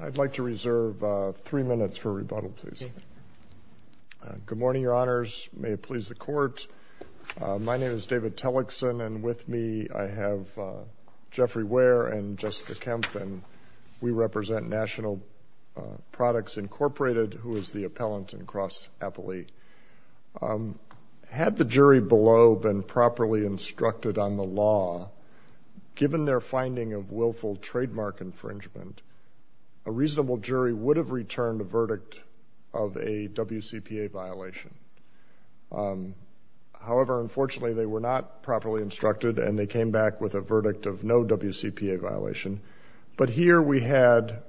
I'd like to reserve three minutes for rebuttal, please. Good morning, Your Honors. May it please the Court. My name is David Tellickson, and with me I have Jeffrey Ware and Jessica Kempf, and we represent National Products, Inc., who is the appellant in cross-appellate. Had the jury below been properly instructed on the law, given their finding of willful trademark infringement, a reasonable jury would have returned a verdict of a WCPA violation. However, unfortunately, they were not properly instructed, and they came back with a verdict of no WCPA violation. But here we had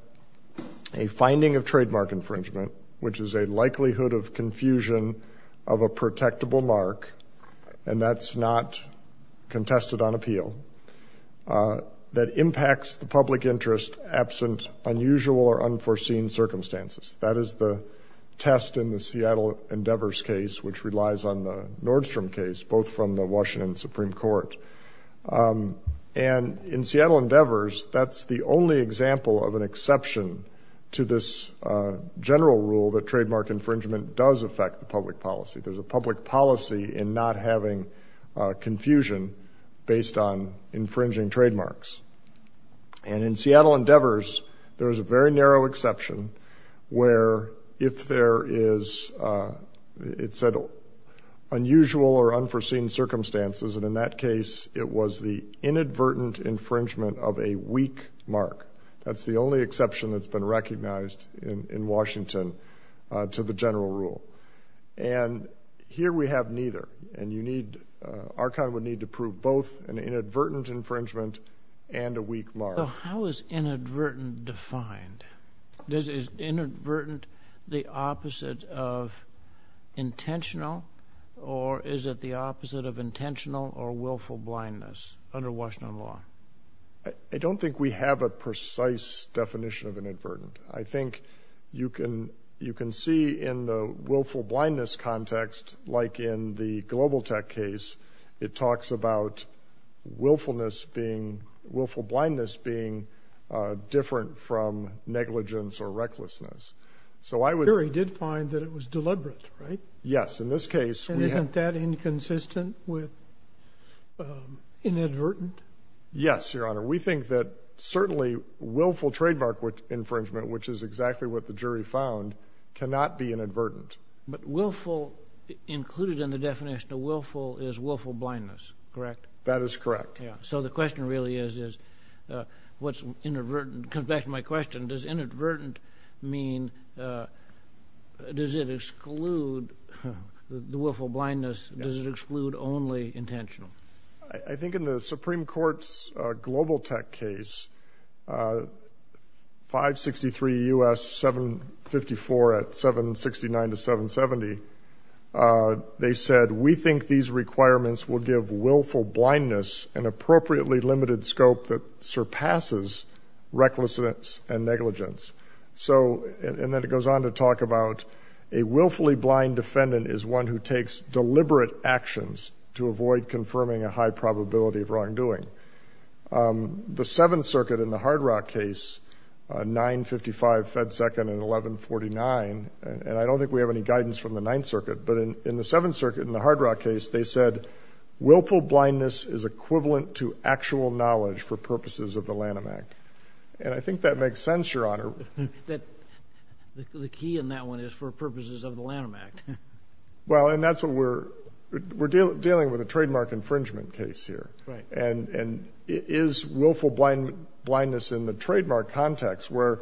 a finding of trademark infringement, which is a violation of a protectable mark, and that's not contested on appeal, that impacts the public interest absent unusual or unforeseen circumstances. That is the test in the Seattle Endeavors case, which relies on the Nordstrom case, both from the Washington Supreme Court. And in Seattle Endeavors, that's the only example of an exception to this general rule that There's a public policy in not having confusion based on infringing trademarks. And in Seattle Endeavors, there's a very narrow exception where if there is, it said, unusual or unforeseen circumstances, and in that case, it was the inadvertent infringement of a weak mark. That's the only exception that's recognized in Washington to the general rule. And here we have neither, and you need, our kind would need to prove both an inadvertent infringement and a weak mark. So how is inadvertent defined? Is inadvertent the opposite of intentional, or is it the opposite of intentional or willful blindness under Washington law? I don't think we have a precise definition of inadvertent. I think you can, you can see in the willful blindness context, like in the Global Tech case, it talks about willfulness being, willful blindness being different from negligence or recklessness. So I would... Here he did find that it was deliberate, right? Yes, in this case... And isn't that inconsistent with inadvertent? Yes, Your Honor. We think that certainly willful trademark infringement, which is exactly what the jury found, cannot be inadvertent. But willful, included in the definition of willful, is willful blindness, correct? That is correct. So the question really is, is what's inadvertent, comes back to my question, does inadvertent mean, does it exclude the willful blindness? Does it exclude only intentional? I think in the Supreme Court's Global Tech case, 563 U.S. 754 at 769 to 770, they said, we think these requirements will give willful blindness an appropriately limited scope that surpasses recklessness and negligence. So, and then it goes on to talk about a willfully blind defendant is one who takes deliberate actions to avoid confirming a high probability of wrongdoing. The Seventh Circuit in the Hard Rock case, 955 Fed Second and 1149, and I don't think we have any guidance from the Ninth Circuit, but in the Seventh Circuit, in the Hard Rock case, they said, willful blindness is equivalent to actual knowledge for purposes of the Lanham Act. And I think that makes sense, Your Honor. That the key in that one is for purposes of the Lanham Act. Well, and that's what we're, we're dealing with a trademark infringement case here. And is willful blindness in the trademark context where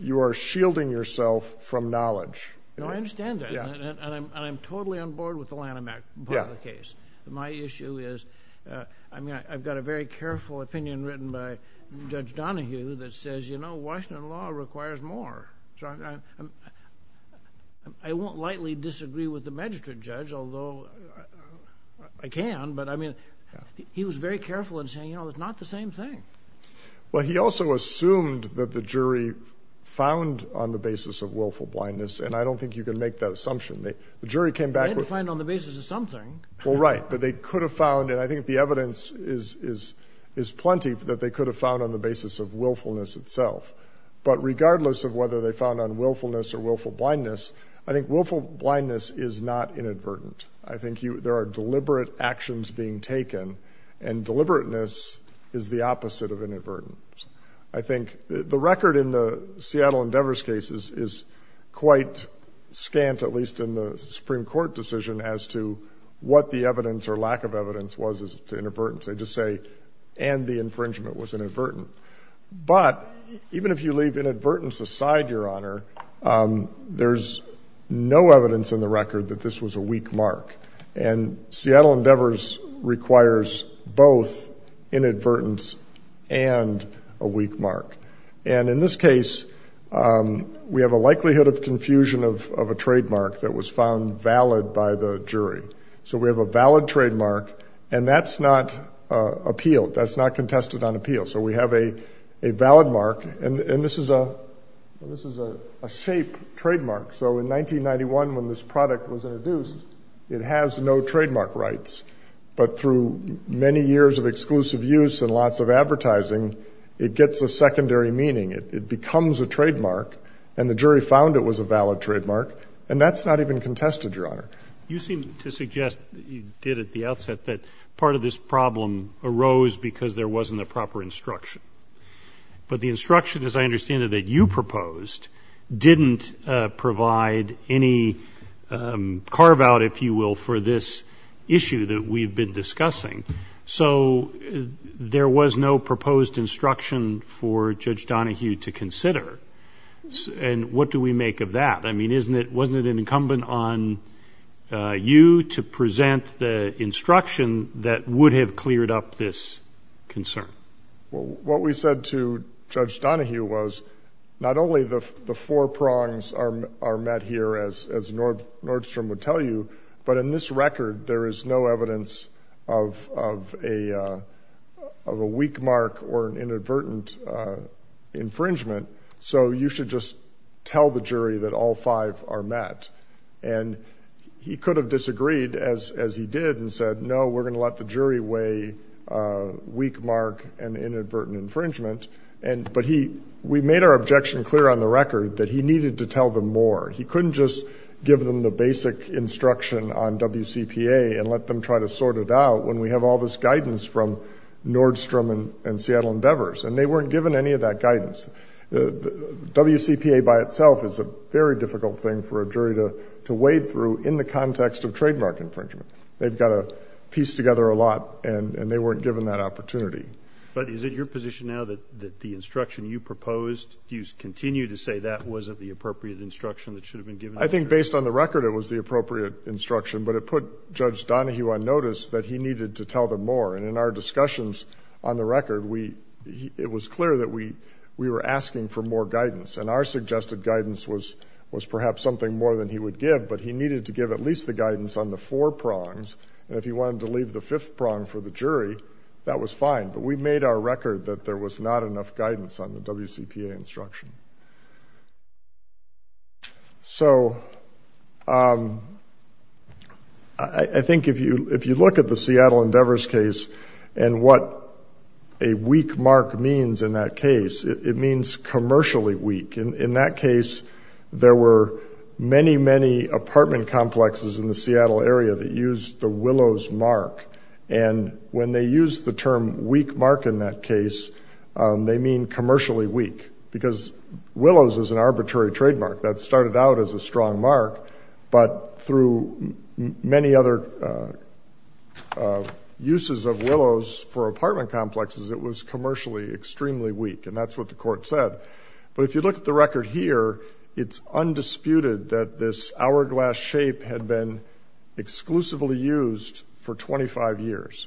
you are shielding yourself from knowledge? No, I understand that. And I'm totally on board with the Lanham Act part of the case. My issue is, I mean, I've got a very careful opinion written by Judge Donahue that says, you know, Washington law requires more. So I won't lightly disagree with the magistrate judge, although I can, but I mean, he was very careful in saying, you know, it's not the same thing. Well, he also assumed that the jury found on the basis of willful blindness. And I don't think you can make that assumption. The jury came back with... They had to find on the basis of something. Well, right. But they could have found, and I think the evidence is, is, is plenty that they could have found on the basis of willfulness itself. But regardless of whether they found on willfulness or willful blindness, I think willful blindness is not inadvertent. I think you, there are deliberate actions being taken and deliberateness is the opposite of inadvertent. I think the record in the Seattle Endeavors cases is quite scant, at least in the Supreme Court decision as to what the evidence or lack of evidence was to inadvertence. They just say, and the infringement was inadvertent. But even if you leave inadvertence aside, Your Honor, there's no evidence in the record that this was a weak mark. And Seattle Endeavors requires both inadvertence and a weak mark. And in this case, we have a likelihood of confusion of a trademark that was found valid by the jury. So we have a valid trademark and that's not appealed. So we have a, a valid mark and this is a, this is a shape trademark. So in 1991, when this product was introduced, it has no trademark rights, but through many years of exclusive use and lots of advertising, it gets a secondary meaning. It becomes a trademark and the jury found it was a valid trademark and that's not even contested, Your Honor. You seem to suggest you did at the outset that part of this problem arose because there wasn't a proper instruction. But the instruction, as I understand it, that you proposed didn't provide any carve out, if you will, for this issue that we've been discussing. So there was no proposed instruction for Judge Donohue to consider. And what do we make of that? I mean, isn't it, wasn't it an incumbent on you to concern? Well, what we said to Judge Donohue was not only the four prongs are met here, as Nordstrom would tell you, but in this record, there is no evidence of a weak mark or an inadvertent infringement. So you should just tell the jury that all five are met. And he could have disagreed as he did and said, no, we're going to let the jury weigh weak mark and inadvertent infringement. And, but he, we made our objection clear on the record that he needed to tell them more. He couldn't just give them the basic instruction on WCPA and let them try to sort it out when we have all this guidance from Nordstrom and Seattle Endeavors, and they weren't given any of that guidance. WCPA by itself is a very difficult thing for a jury to, to wade through in the context of trademark infringement. They've got to piece together a lot and, and they weren't given that opportunity. But is it your position now that the instruction you proposed, do you continue to say that wasn't the appropriate instruction that should have been given? I think based on the record, it was the appropriate instruction, but it put Judge Donohue on notice that he needed to tell them more. And in our discussions on the record, we, it was clear that we, we were asking for more guidance and our suggested guidance was, was perhaps something more than he would give, but he gave us four prongs. And if he wanted to leave the fifth prong for the jury, that was fine. But we made our record that there was not enough guidance on the WCPA instruction. So, um, I think if you, if you look at the Seattle Endeavors case and what a weak mark means in that case, it means commercially weak. In that case, there were many, many apartment complexes in the Seattle area that used the Willows mark. And when they use the term weak mark in that case, they mean commercially weak because Willows is an arbitrary trademark that started out as a strong mark, but through many other uses of Willows for apartment complexes, it was commercially extremely weak. And that's what the court said. But if you look at the record here, it's undisputed that this hourglass shape had been exclusively used for 25 years.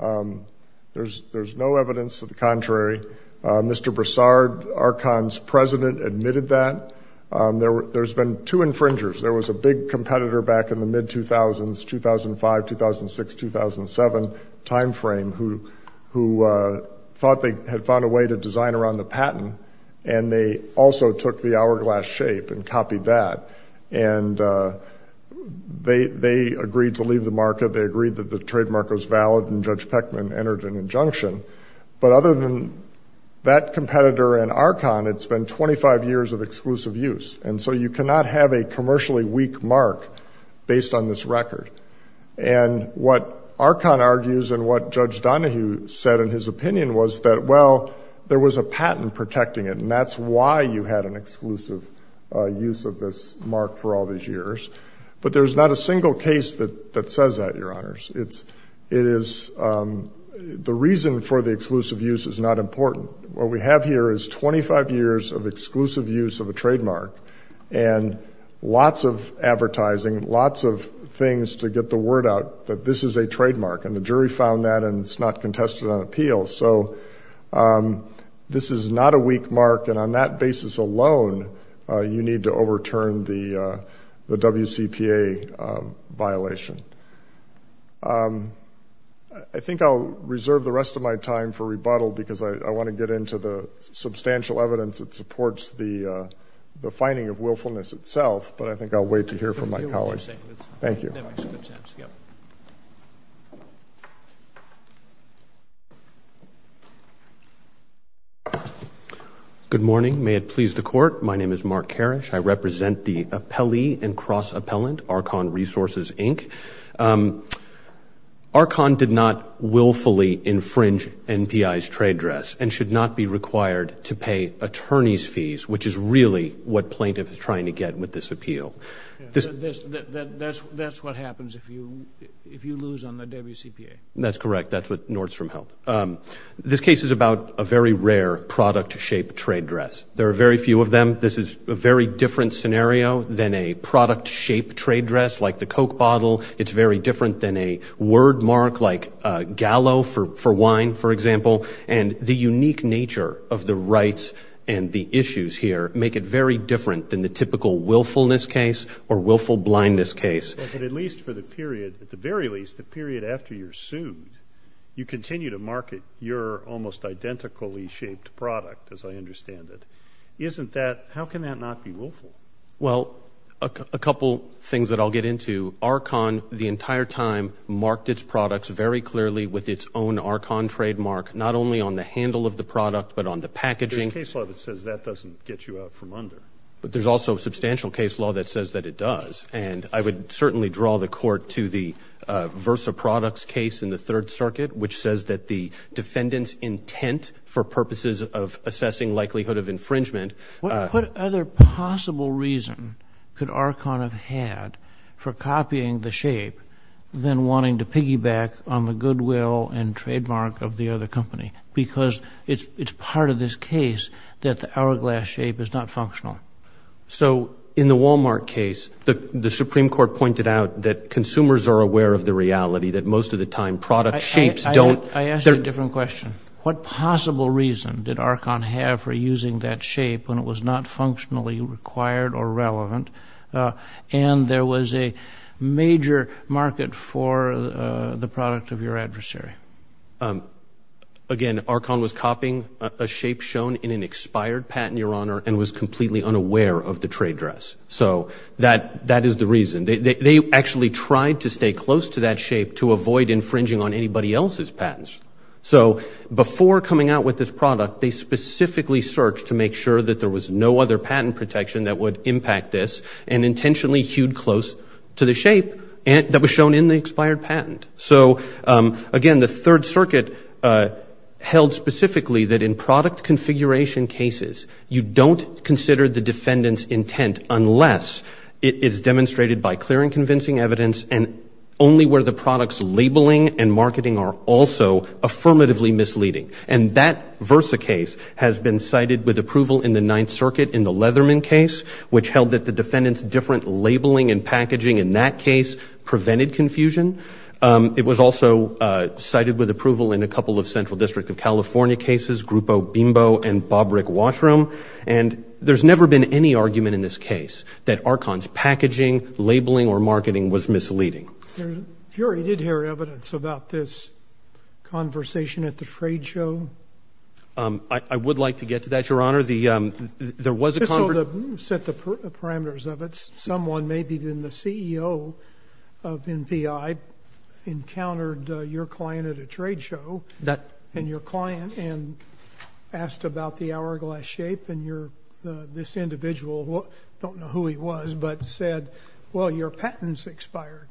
Um, there's, there's no evidence to the contrary. Uh, Mr. Broussard, Archon's president admitted that, um, there, there's been two infringers. There was a big competitor back in the mid 2000s, 2005, 2006, 2007 timeframe who, who, uh, thought they had found a way to design around the patent. And they also took the hourglass shape and copied that. And, uh, they, they agreed to leave the market. They agreed that the trademark was valid and Judge Peckman entered an injunction. But other than that competitor and Archon, it's been 25 years of exclusive use. And so you cannot have a commercially weak mark based on this record. And what Archon argues and what Judge Donahue said in his opinion was that, well, there was a patent protecting it and that's why you had an exclusive use of this mark for all these years. But there's not a single case that, that says that, Your Honors. It's, it is, um, the reason for the exclusive use is not important. What we have here is 25 years of exclusive use of a trademark and lots of advertising, lots of things to get the word out that this is a trademark and the jury found that and it's not contested on appeal. So, um, this is not a weak mark. And on that basis alone, uh, you need to overturn the, uh, the WCPA, um, violation. Um, I think I'll reserve the rest of my time for rebuttal because I want to get into the substantial evidence that supports the, uh, the finding of willfulness itself, but I think I'll wait to hear from my colleagues. Thank you. Good morning. May it please the court. My name is Mark Karish. I represent the appellee and cross-appellant, Archon Resources, Inc. Um, Archon did not willfully infringe NPI's trade dress and should not be required to pay attorney's fees, which is really what plaintiff is trying to get with this appeal. That's what happens if you, if you lose on the WCPA. That's correct. That's what Nordstrom held. Um, this case is about a very rare product shape trade dress. There are very few of them. This is a very different scenario than a product shape trade dress, like the Coke bottle. It's very different than a word mark, like a gallo for, for wine, for example. And the unique nature of the rights and the issues here make it very different than the typical willfulness case or willful blindness case. But at least for the period, at the very least, the period after you're sued, you continue to market your almost identically shaped product, as I understand it. Isn't that, how can that not be willful? Well, a couple things that I'll get into. Archon, the entire time, marked its products very clearly with its own Archon trademark, not only on the handle of the product, but on the packaging. There's case law that says that doesn't get you out from under. But there's also substantial case law that says that it does. And I would certainly draw the court to the Versa Products case in the Third Circuit, which says that the defendant's intent for purposes of assessing likelihood of infringement. What other possible reason could Archon have had for copying the shape than wanting to piggyback on the goodwill and trademark of the other company? Because it's, it's part of this case that the hourglass shape is not functional. So in the Walmart case, the Supreme Court pointed out that consumers are aware of the reality that most of the time product shapes don't... I asked you a different question. What possible reason did Archon have for using that shape when it was not functionally required or relevant, and there was a major market for the product of your adversary? Again, Archon was copying a shape shown in an expired patent, Your Honor, and was completely unaware of the trade dress. So that, that is the reason. They actually tried to stay close to that shape to avoid infringing on anybody else's patents. So before coming out with this product, they specifically searched to make sure that there was no other patent protection that would impact this, and intentionally hewed close to the shape that was shown in the expired patent. So again, the Third Circuit held specifically that in product configuration cases, you don't consider the defendant's intent unless it is demonstrated by clear and convincing evidence, and only where the product's labeling and marketing are also affirmatively misleading. And that Versa case has been cited with approval in the Ninth Circuit in the Leatherman case, which held that the defendant's different labeling and packaging in that case prevented confusion. It was also cited with approval in a couple of Central District of California cases, Grupo Bimbo and Bobrick Washroom, and there's never been any argument in this case that Archon's packaging, labeling, or marketing was misleading. Your Honor, you did hear evidence about this conversation at the trade show? I would like to get to that, Your Honor. The, there was a... Just so we can set the record straight, the CEO of NPI encountered your client at a trade show, and your client asked about the hourglass shape, and your, this individual, don't know who he was, but said, well, your patent's expired.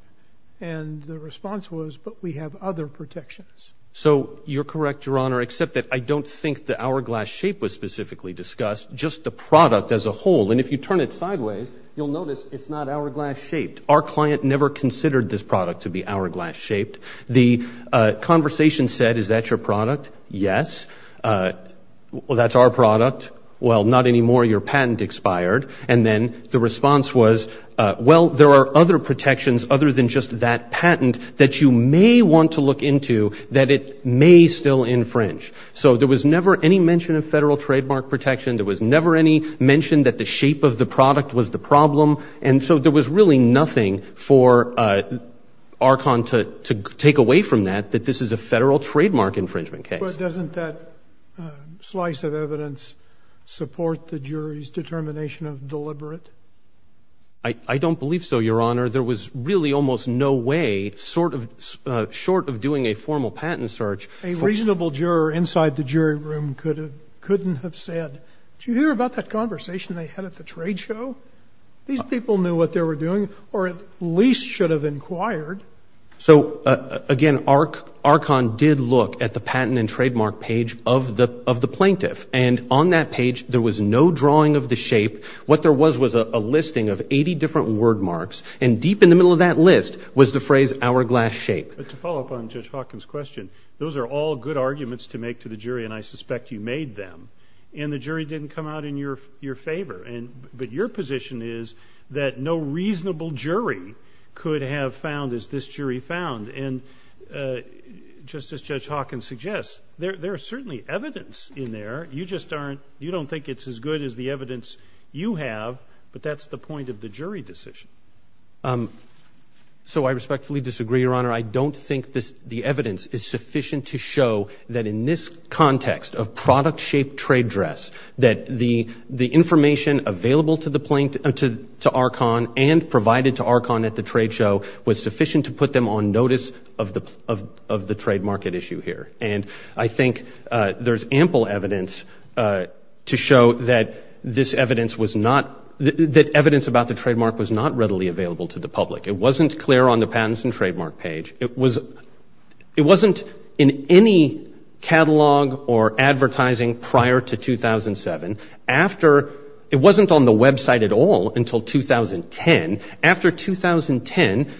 And the response was, but we have other protections. So, you're correct, Your Honor, except that I don't think the hourglass shape was specifically discussed, just the product as a whole. And if you turn it sideways, you'll notice it's not hourglass shaped. Our client never considered this product to be hourglass shaped. The conversation said, is that your product? Yes. Well, that's our product. Well, not anymore. Your patent expired. And then the response was, well, there are other protections other than just that patent that you may want to look into that it may still infringe. So, there was never any mention of federal trademark protection. There was never any mention that the shape of the product was the problem. And so, there was really nothing for Archon to take away from that, that this is a federal trademark infringement case. But doesn't that slice of evidence support the jury's determination of deliberate? I don't believe so, Your Honor. There was really almost no way, sort of, short of doing a formal patent search. A reasonable juror inside the jury room could have, couldn't have said, did you hear about that conversation they had at the trade show? These people knew what they were doing, or at least should have inquired. So, again, Archon did look at the patent and trademark page of the plaintiff. And on that page, there was no drawing of the shape. What there was, was a listing of 80 different word marks. And deep in the middle of that list was the phrase hourglass shape. To follow up on Judge Hawkins' question, those are all good arguments to make to the jury, and I suspect you made them. And the jury didn't come out in your favor. But your position is that no reasonable jury could have found as this jury found. And just as Judge Hawkins suggests, there is certainly evidence in there. You just aren't, you don't think it's as good as the evidence you have, but that's the point of the jury decision. So, I respectfully disagree, Your Honor. I don't think the evidence is sufficient to show that in this context of product-shaped trade dress, that the information available to Archon and provided to Archon at the trade show was sufficient to put them on notice of the trademark at issue here. And I think there's ample evidence to show that this evidence was not, that evidence about the trademark was not readily available to the public. It wasn't clear on the patents and trademark page. It was, it wasn't in any catalog or advertising prior to 2007. After, it wasn't on the website at all until 2010. After 2010,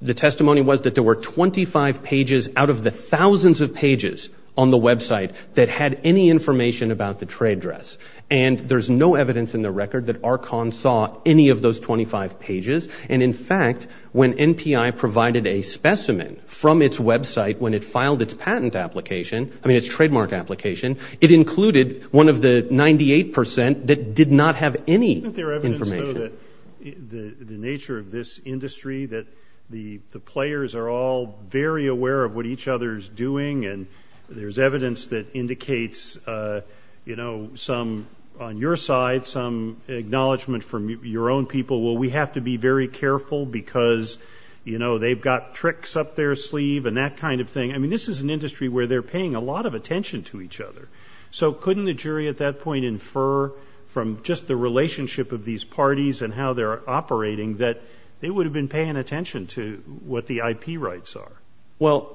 the testimony was that there were 25 pages out of the thousands of pages on the website that had any information about the trade dress. And there's no evidence in the from its website when it filed its patent application, I mean, its trademark application, it included one of the 98 percent that did not have any information. Isn't there evidence, though, that the nature of this industry, that the players are all very aware of what each other is doing, and there's evidence that indicates, you know, some on your side, some acknowledgement from your own people, well, we have to be very careful because, you know, they've got tricks up their sleeve and that kind of thing. I mean, this is an industry where they're paying a lot of attention to each other. So couldn't the jury at that point infer from just the relationship of these parties and how they're operating that they would have been paying attention to what the IP rights are? Well,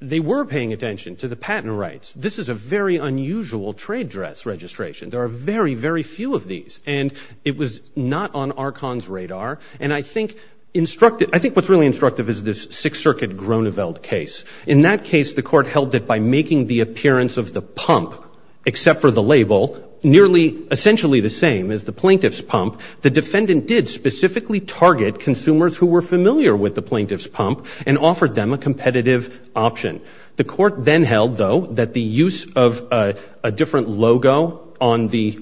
they were paying attention to the patent rights. This is a very unusual trade dress registration. There are very, very few of these. And it was not on ARCON's radar. And I think what's really instructive is this Sixth Circuit Groneveld case. In that case, the court held that by making the appearance of the pump, except for the label, nearly essentially the same as the plaintiff's pump, the defendant did specifically target consumers who were familiar with the plaintiff's pump and offered them a competitive option. The court then held, though, that the use of a different logo on the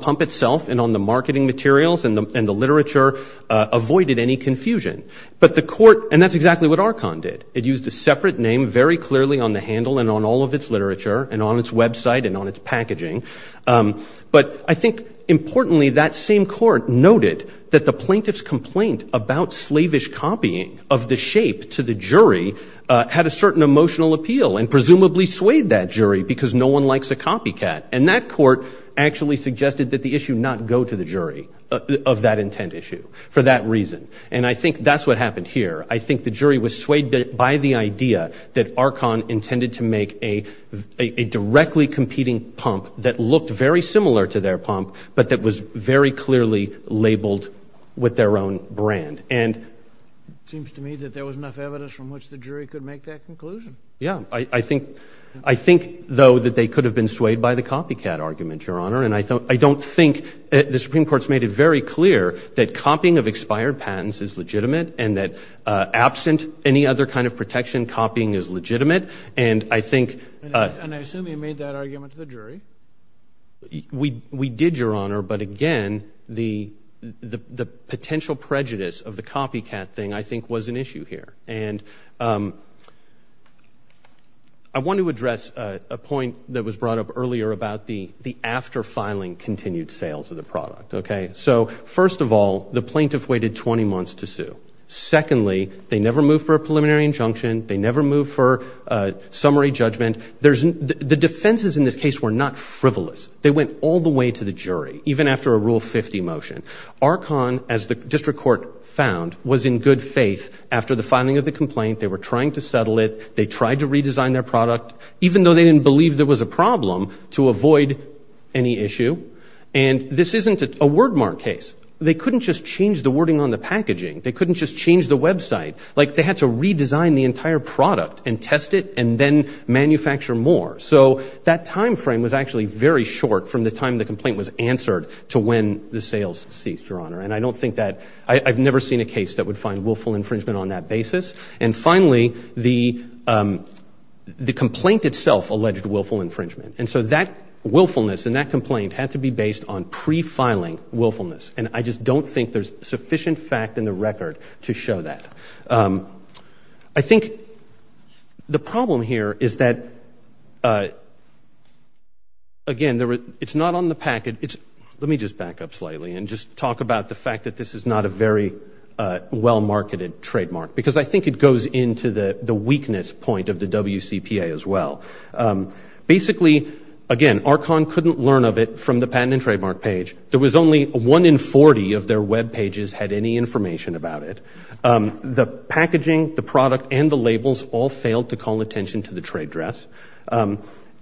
pump itself and on the marketing materials and the literature avoided any confusion. But the court, and that's exactly what ARCON did, it used a separate name very clearly on the handle and on all of its literature and on its website and on its packaging. But I think importantly, that same court noted that the plaintiff's complaint about slavish copying of the shape to the jury had a certain emotional appeal and presumably swayed that jury because no one likes a copycat. And that court actually suggested that the issue not go to the jury of that intent issue for that reason. And I think that's what happened here. I think the jury was swayed by the idea that ARCON intended to make a directly competing pump that looked very similar to their pump, but that was very clearly labeled with their own brand. And it seems to me that there was enough evidence from which the jury could make that conclusion. Yeah. I think, though, that they could have been swayed by the I don't think the Supreme Court's made it very clear that copying of expired patents is legitimate and that absent any other kind of protection, copying is legitimate. And I think... And I assume you made that argument to the jury. We did, Your Honor. But again, the potential prejudice of the copycat thing, I think, was an issue here. And I want to address a point that was brought up earlier about the after-filing continued sales of the product, okay? So first of all, the plaintiff waited 20 months to sue. Secondly, they never moved for a preliminary injunction. They never moved for a summary judgment. There's... The defenses in this case were not frivolous. They went all the way to the jury, even after a Rule 50 motion. ARCON, as the district court found, was in good faith after the filing of the complaint. They were trying to settle it. They tried to avoid any issue. And this isn't a wordmark case. They couldn't just change the wording on the packaging. They couldn't just change the website. Like, they had to redesign the entire product and test it and then manufacture more. So that time frame was actually very short from the time the complaint was answered to when the sales ceased, Your Honor. And I don't think that... I've never seen a case that would find willful infringement on that basis. And finally, the complaint itself alleged willful infringement. And so that willfulness and that complaint had to be based on pre-filing willfulness. And I just don't think there's sufficient fact in the record to show that. I think the problem here is that, again, it's not on the packet. It's... Let me just back up slightly and just talk about the fact that this is not a very well-marketed trademark. Because I think it goes into the weakness point of the WCPA as well. Basically, again, Archon couldn't learn of it from the patent and trademark page. There was only one in 40 of their web pages had any information about it. The packaging, the product, and the labels all failed to call attention to the trade dress.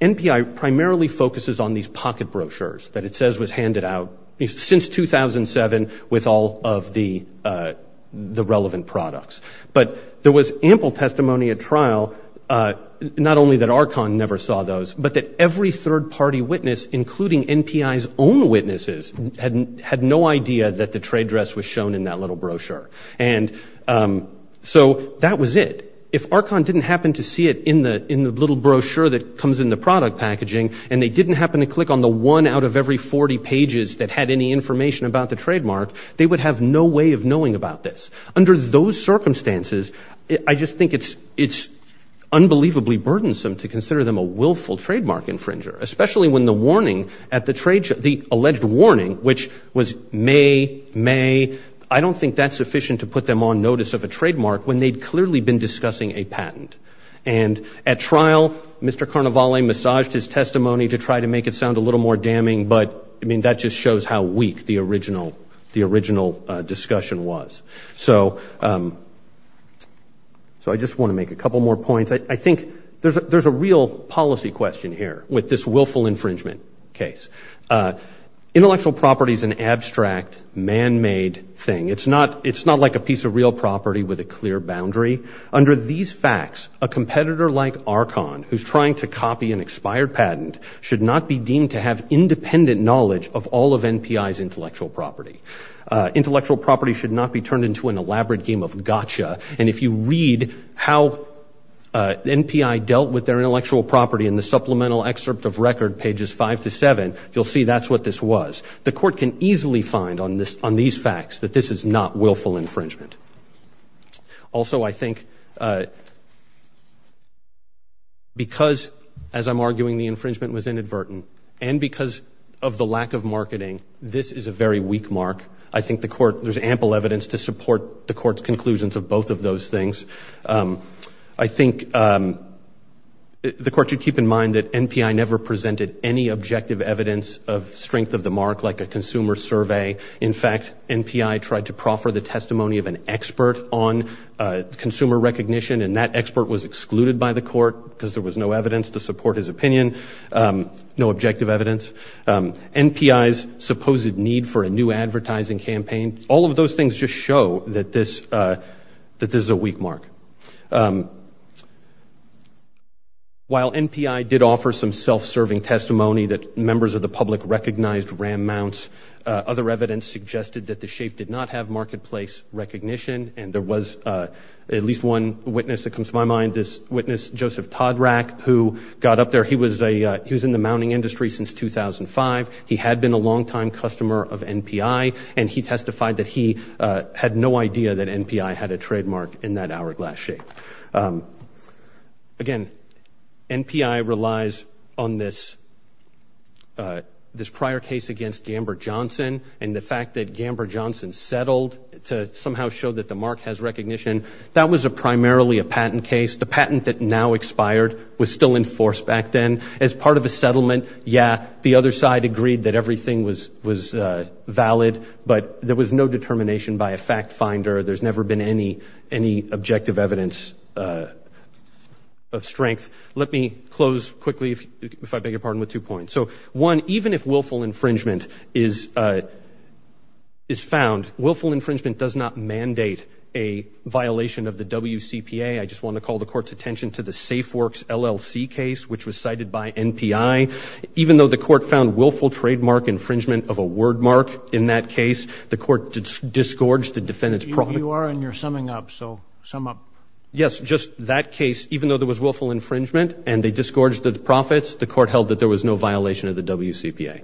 NPI primarily focuses on these pocket brochures that it But there was ample testimony at trial, not only that Archon never saw those, but that every third-party witness, including NPI's own witnesses, had no idea that the trade dress was shown in that little brochure. And so that was it. If Archon didn't happen to see it in the little brochure that comes in the product packaging, and they didn't happen to click on the one out of every 40 pages that had any information about the trademark, they would have no way of knowing about this. Under those circumstances, I just think it's unbelievably burdensome to consider them a willful trademark infringer, especially when the warning at the trade show, the alleged warning, which was May, May, I don't think that's sufficient to put them on notice of a trademark when they'd clearly been discussing a patent. And at trial, Mr. Carnevale massaged his testimony to try to make it sound a little more damning. But I mean, that just shows how weak the original discussion was. So I just want to make a couple more points. I think there's a real policy question here with this willful infringement case. Intellectual property is an abstract, man-made thing. It's not like a piece of real property with a clear boundary. Under these facts, a competitor like Archon, who's trying to copy an expired patent, should not be intellectual property. Intellectual property should not be turned into an elaborate game of gotcha. And if you read how the NPI dealt with their intellectual property in the supplemental excerpt of record, pages five to seven, you'll see that's what this was. The court can easily find on these facts that this is not willful infringement. Also, I think because, as I'm arguing the infringement was inadvertent, and because of the lack of evidence, this is a very weak mark. I think the court, there's ample evidence to support the court's conclusions of both of those things. I think the court should keep in mind that NPI never presented any objective evidence of strength of the mark like a consumer survey. In fact, NPI tried to proffer the testimony of an expert on consumer recognition, and that expert was excluded by the court because there was no evidence to support his opinion, no supposed need for a new advertising campaign. All of those things just show that this is a weak mark. While NPI did offer some self-serving testimony that members of the public recognized RAM mounts, other evidence suggested that the shape did not have marketplace recognition, and there was at least one witness that comes to my mind. This witness, Joseph Todrak, who got up there. He was in the mounting industry since 2005. He had been a longtime customer of NPI, and he testified that he had no idea that NPI had a trademark in that hourglass shape. Again, NPI relies on this prior case against Gambert Johnson, and the fact that Gambert Johnson settled to somehow show that the mark has recognition, that was a primarily a patent case. The patent that now expired was still in force back then. As part of a settlement, yeah, the other side agreed that everything was valid, but there was no determination by a fact finder. There's never been any objective evidence of strength. Let me close quickly, if I beg your pardon, with two points. So one, even if willful infringement is found, willful infringement does not mandate a the court's attention to the SafeWorks LLC case, which was cited by NPI. Even though the court found willful trademark infringement of a word mark in that case, the court disgorged the defendant's profit. You are, and you're summing up, so sum up. Yes, just that case, even though there was willful infringement, and they disgorged the profits, the court held that there was no violation of the WCPA.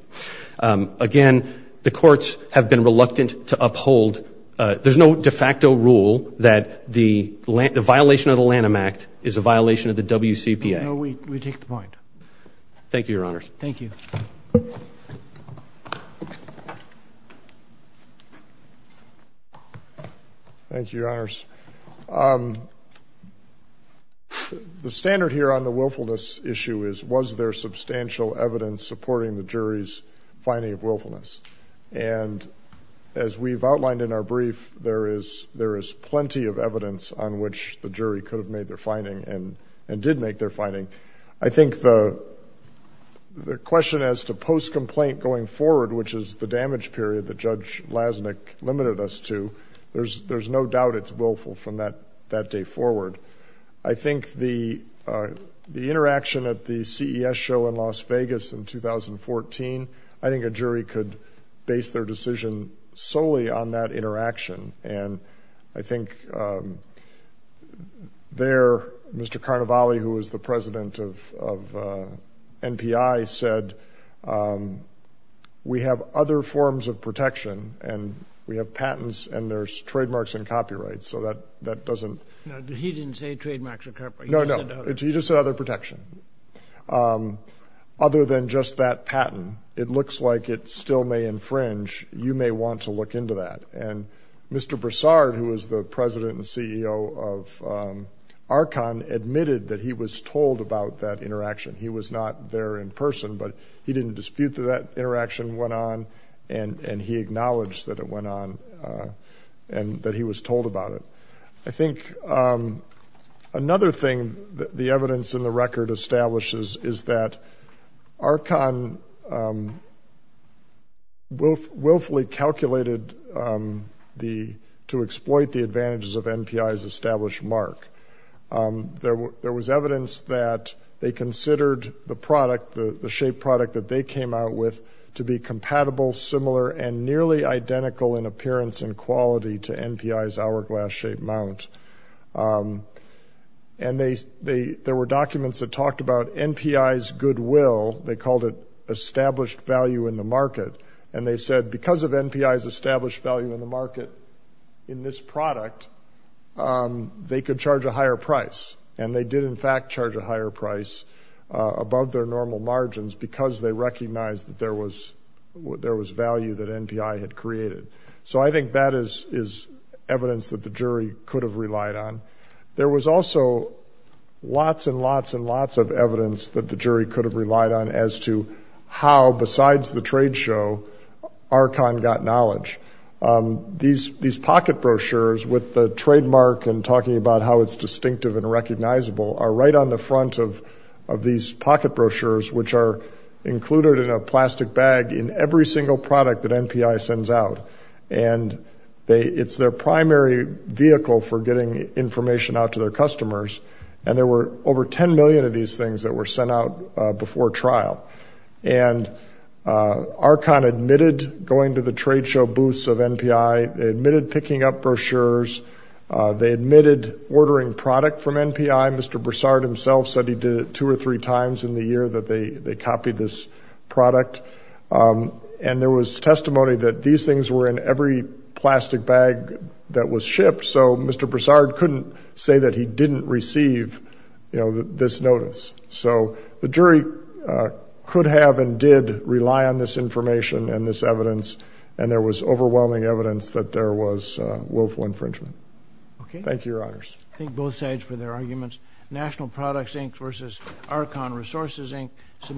Again, the courts have been reluctant to uphold. There's no de facto rule that the violation of the Lanham Act is a violation of the WCPA. We take the point. Thank you, Your Honors. Thank you. Thank you, Your Honors. The standard here on the willfulness issue is, was there substantial evidence supporting the jury's finding of willfulness? And as we've discussed, the jury could have made their finding and did make their finding. I think the question as to post-complaint going forward, which is the damage period that Judge Lasnik limited us to, there's no doubt it's willful from that day forward. I think the interaction at the CES show in Las Vegas in 2014, I think a jury could base their decision solely on that interaction. And I think there, Mr. Carnevale, who was the president of NPI, said, we have other forms of protection, and we have patents, and there's trademarks and copyrights. So that doesn't... No, he didn't say trademarks or copyrights. No, no, he just said other protection. Other than just that patent, it looks like it still may infringe. You may want to look into that. And Mr. Broussard, who was the president and CEO of Archon, admitted that he was told about that interaction. He was not there in person, but he didn't dispute that that interaction went on, and he acknowledged that it went on and that he was told about it. I think another thing that the evidence in the record establishes is that Archon willfully calculated to exploit the advantages of NPI's established mark. There was evidence that they considered the product, the shape product that they came out with, to be compatible, similar, and nearly identical in appearance and they, there were documents that talked about NPI's goodwill. They called it established value in the market, and they said because of NPI's established value in the market in this product, they could charge a higher price. And they did, in fact, charge a higher price above their normal margins because they recognized that there was, there was value that NPI had created. So I think that is evidence that the jury could have relied on. There was also lots and lots and lots of evidence that the jury could have relied on as to how, besides the trade show, Archon got knowledge. These, these pocket brochures with the trademark and talking about how it's distinctive and recognizable are right on the front of, of these pocket brochures, which are included in a It's their primary vehicle for getting information out to their customers. And there were over 10 million of these things that were sent out before trial. And Archon admitted going to the trade show booths of NPI. They admitted picking up brochures. They admitted ordering product from NPI. Mr. Broussard himself said he did it two or three times in the year that they, they copied this product. And there was testimony that these things were in every plastic bag that was shipped. So Mr. Broussard couldn't say that he didn't receive, you know, this notice. So the jury, uh, could have and did rely on this information and this evidence. And there was overwhelming evidence that there was a willful infringement. Okay. Thank you, Your Honors. I think both sides for their arguments, National Products, Inc. versus Archon Resources, Inc.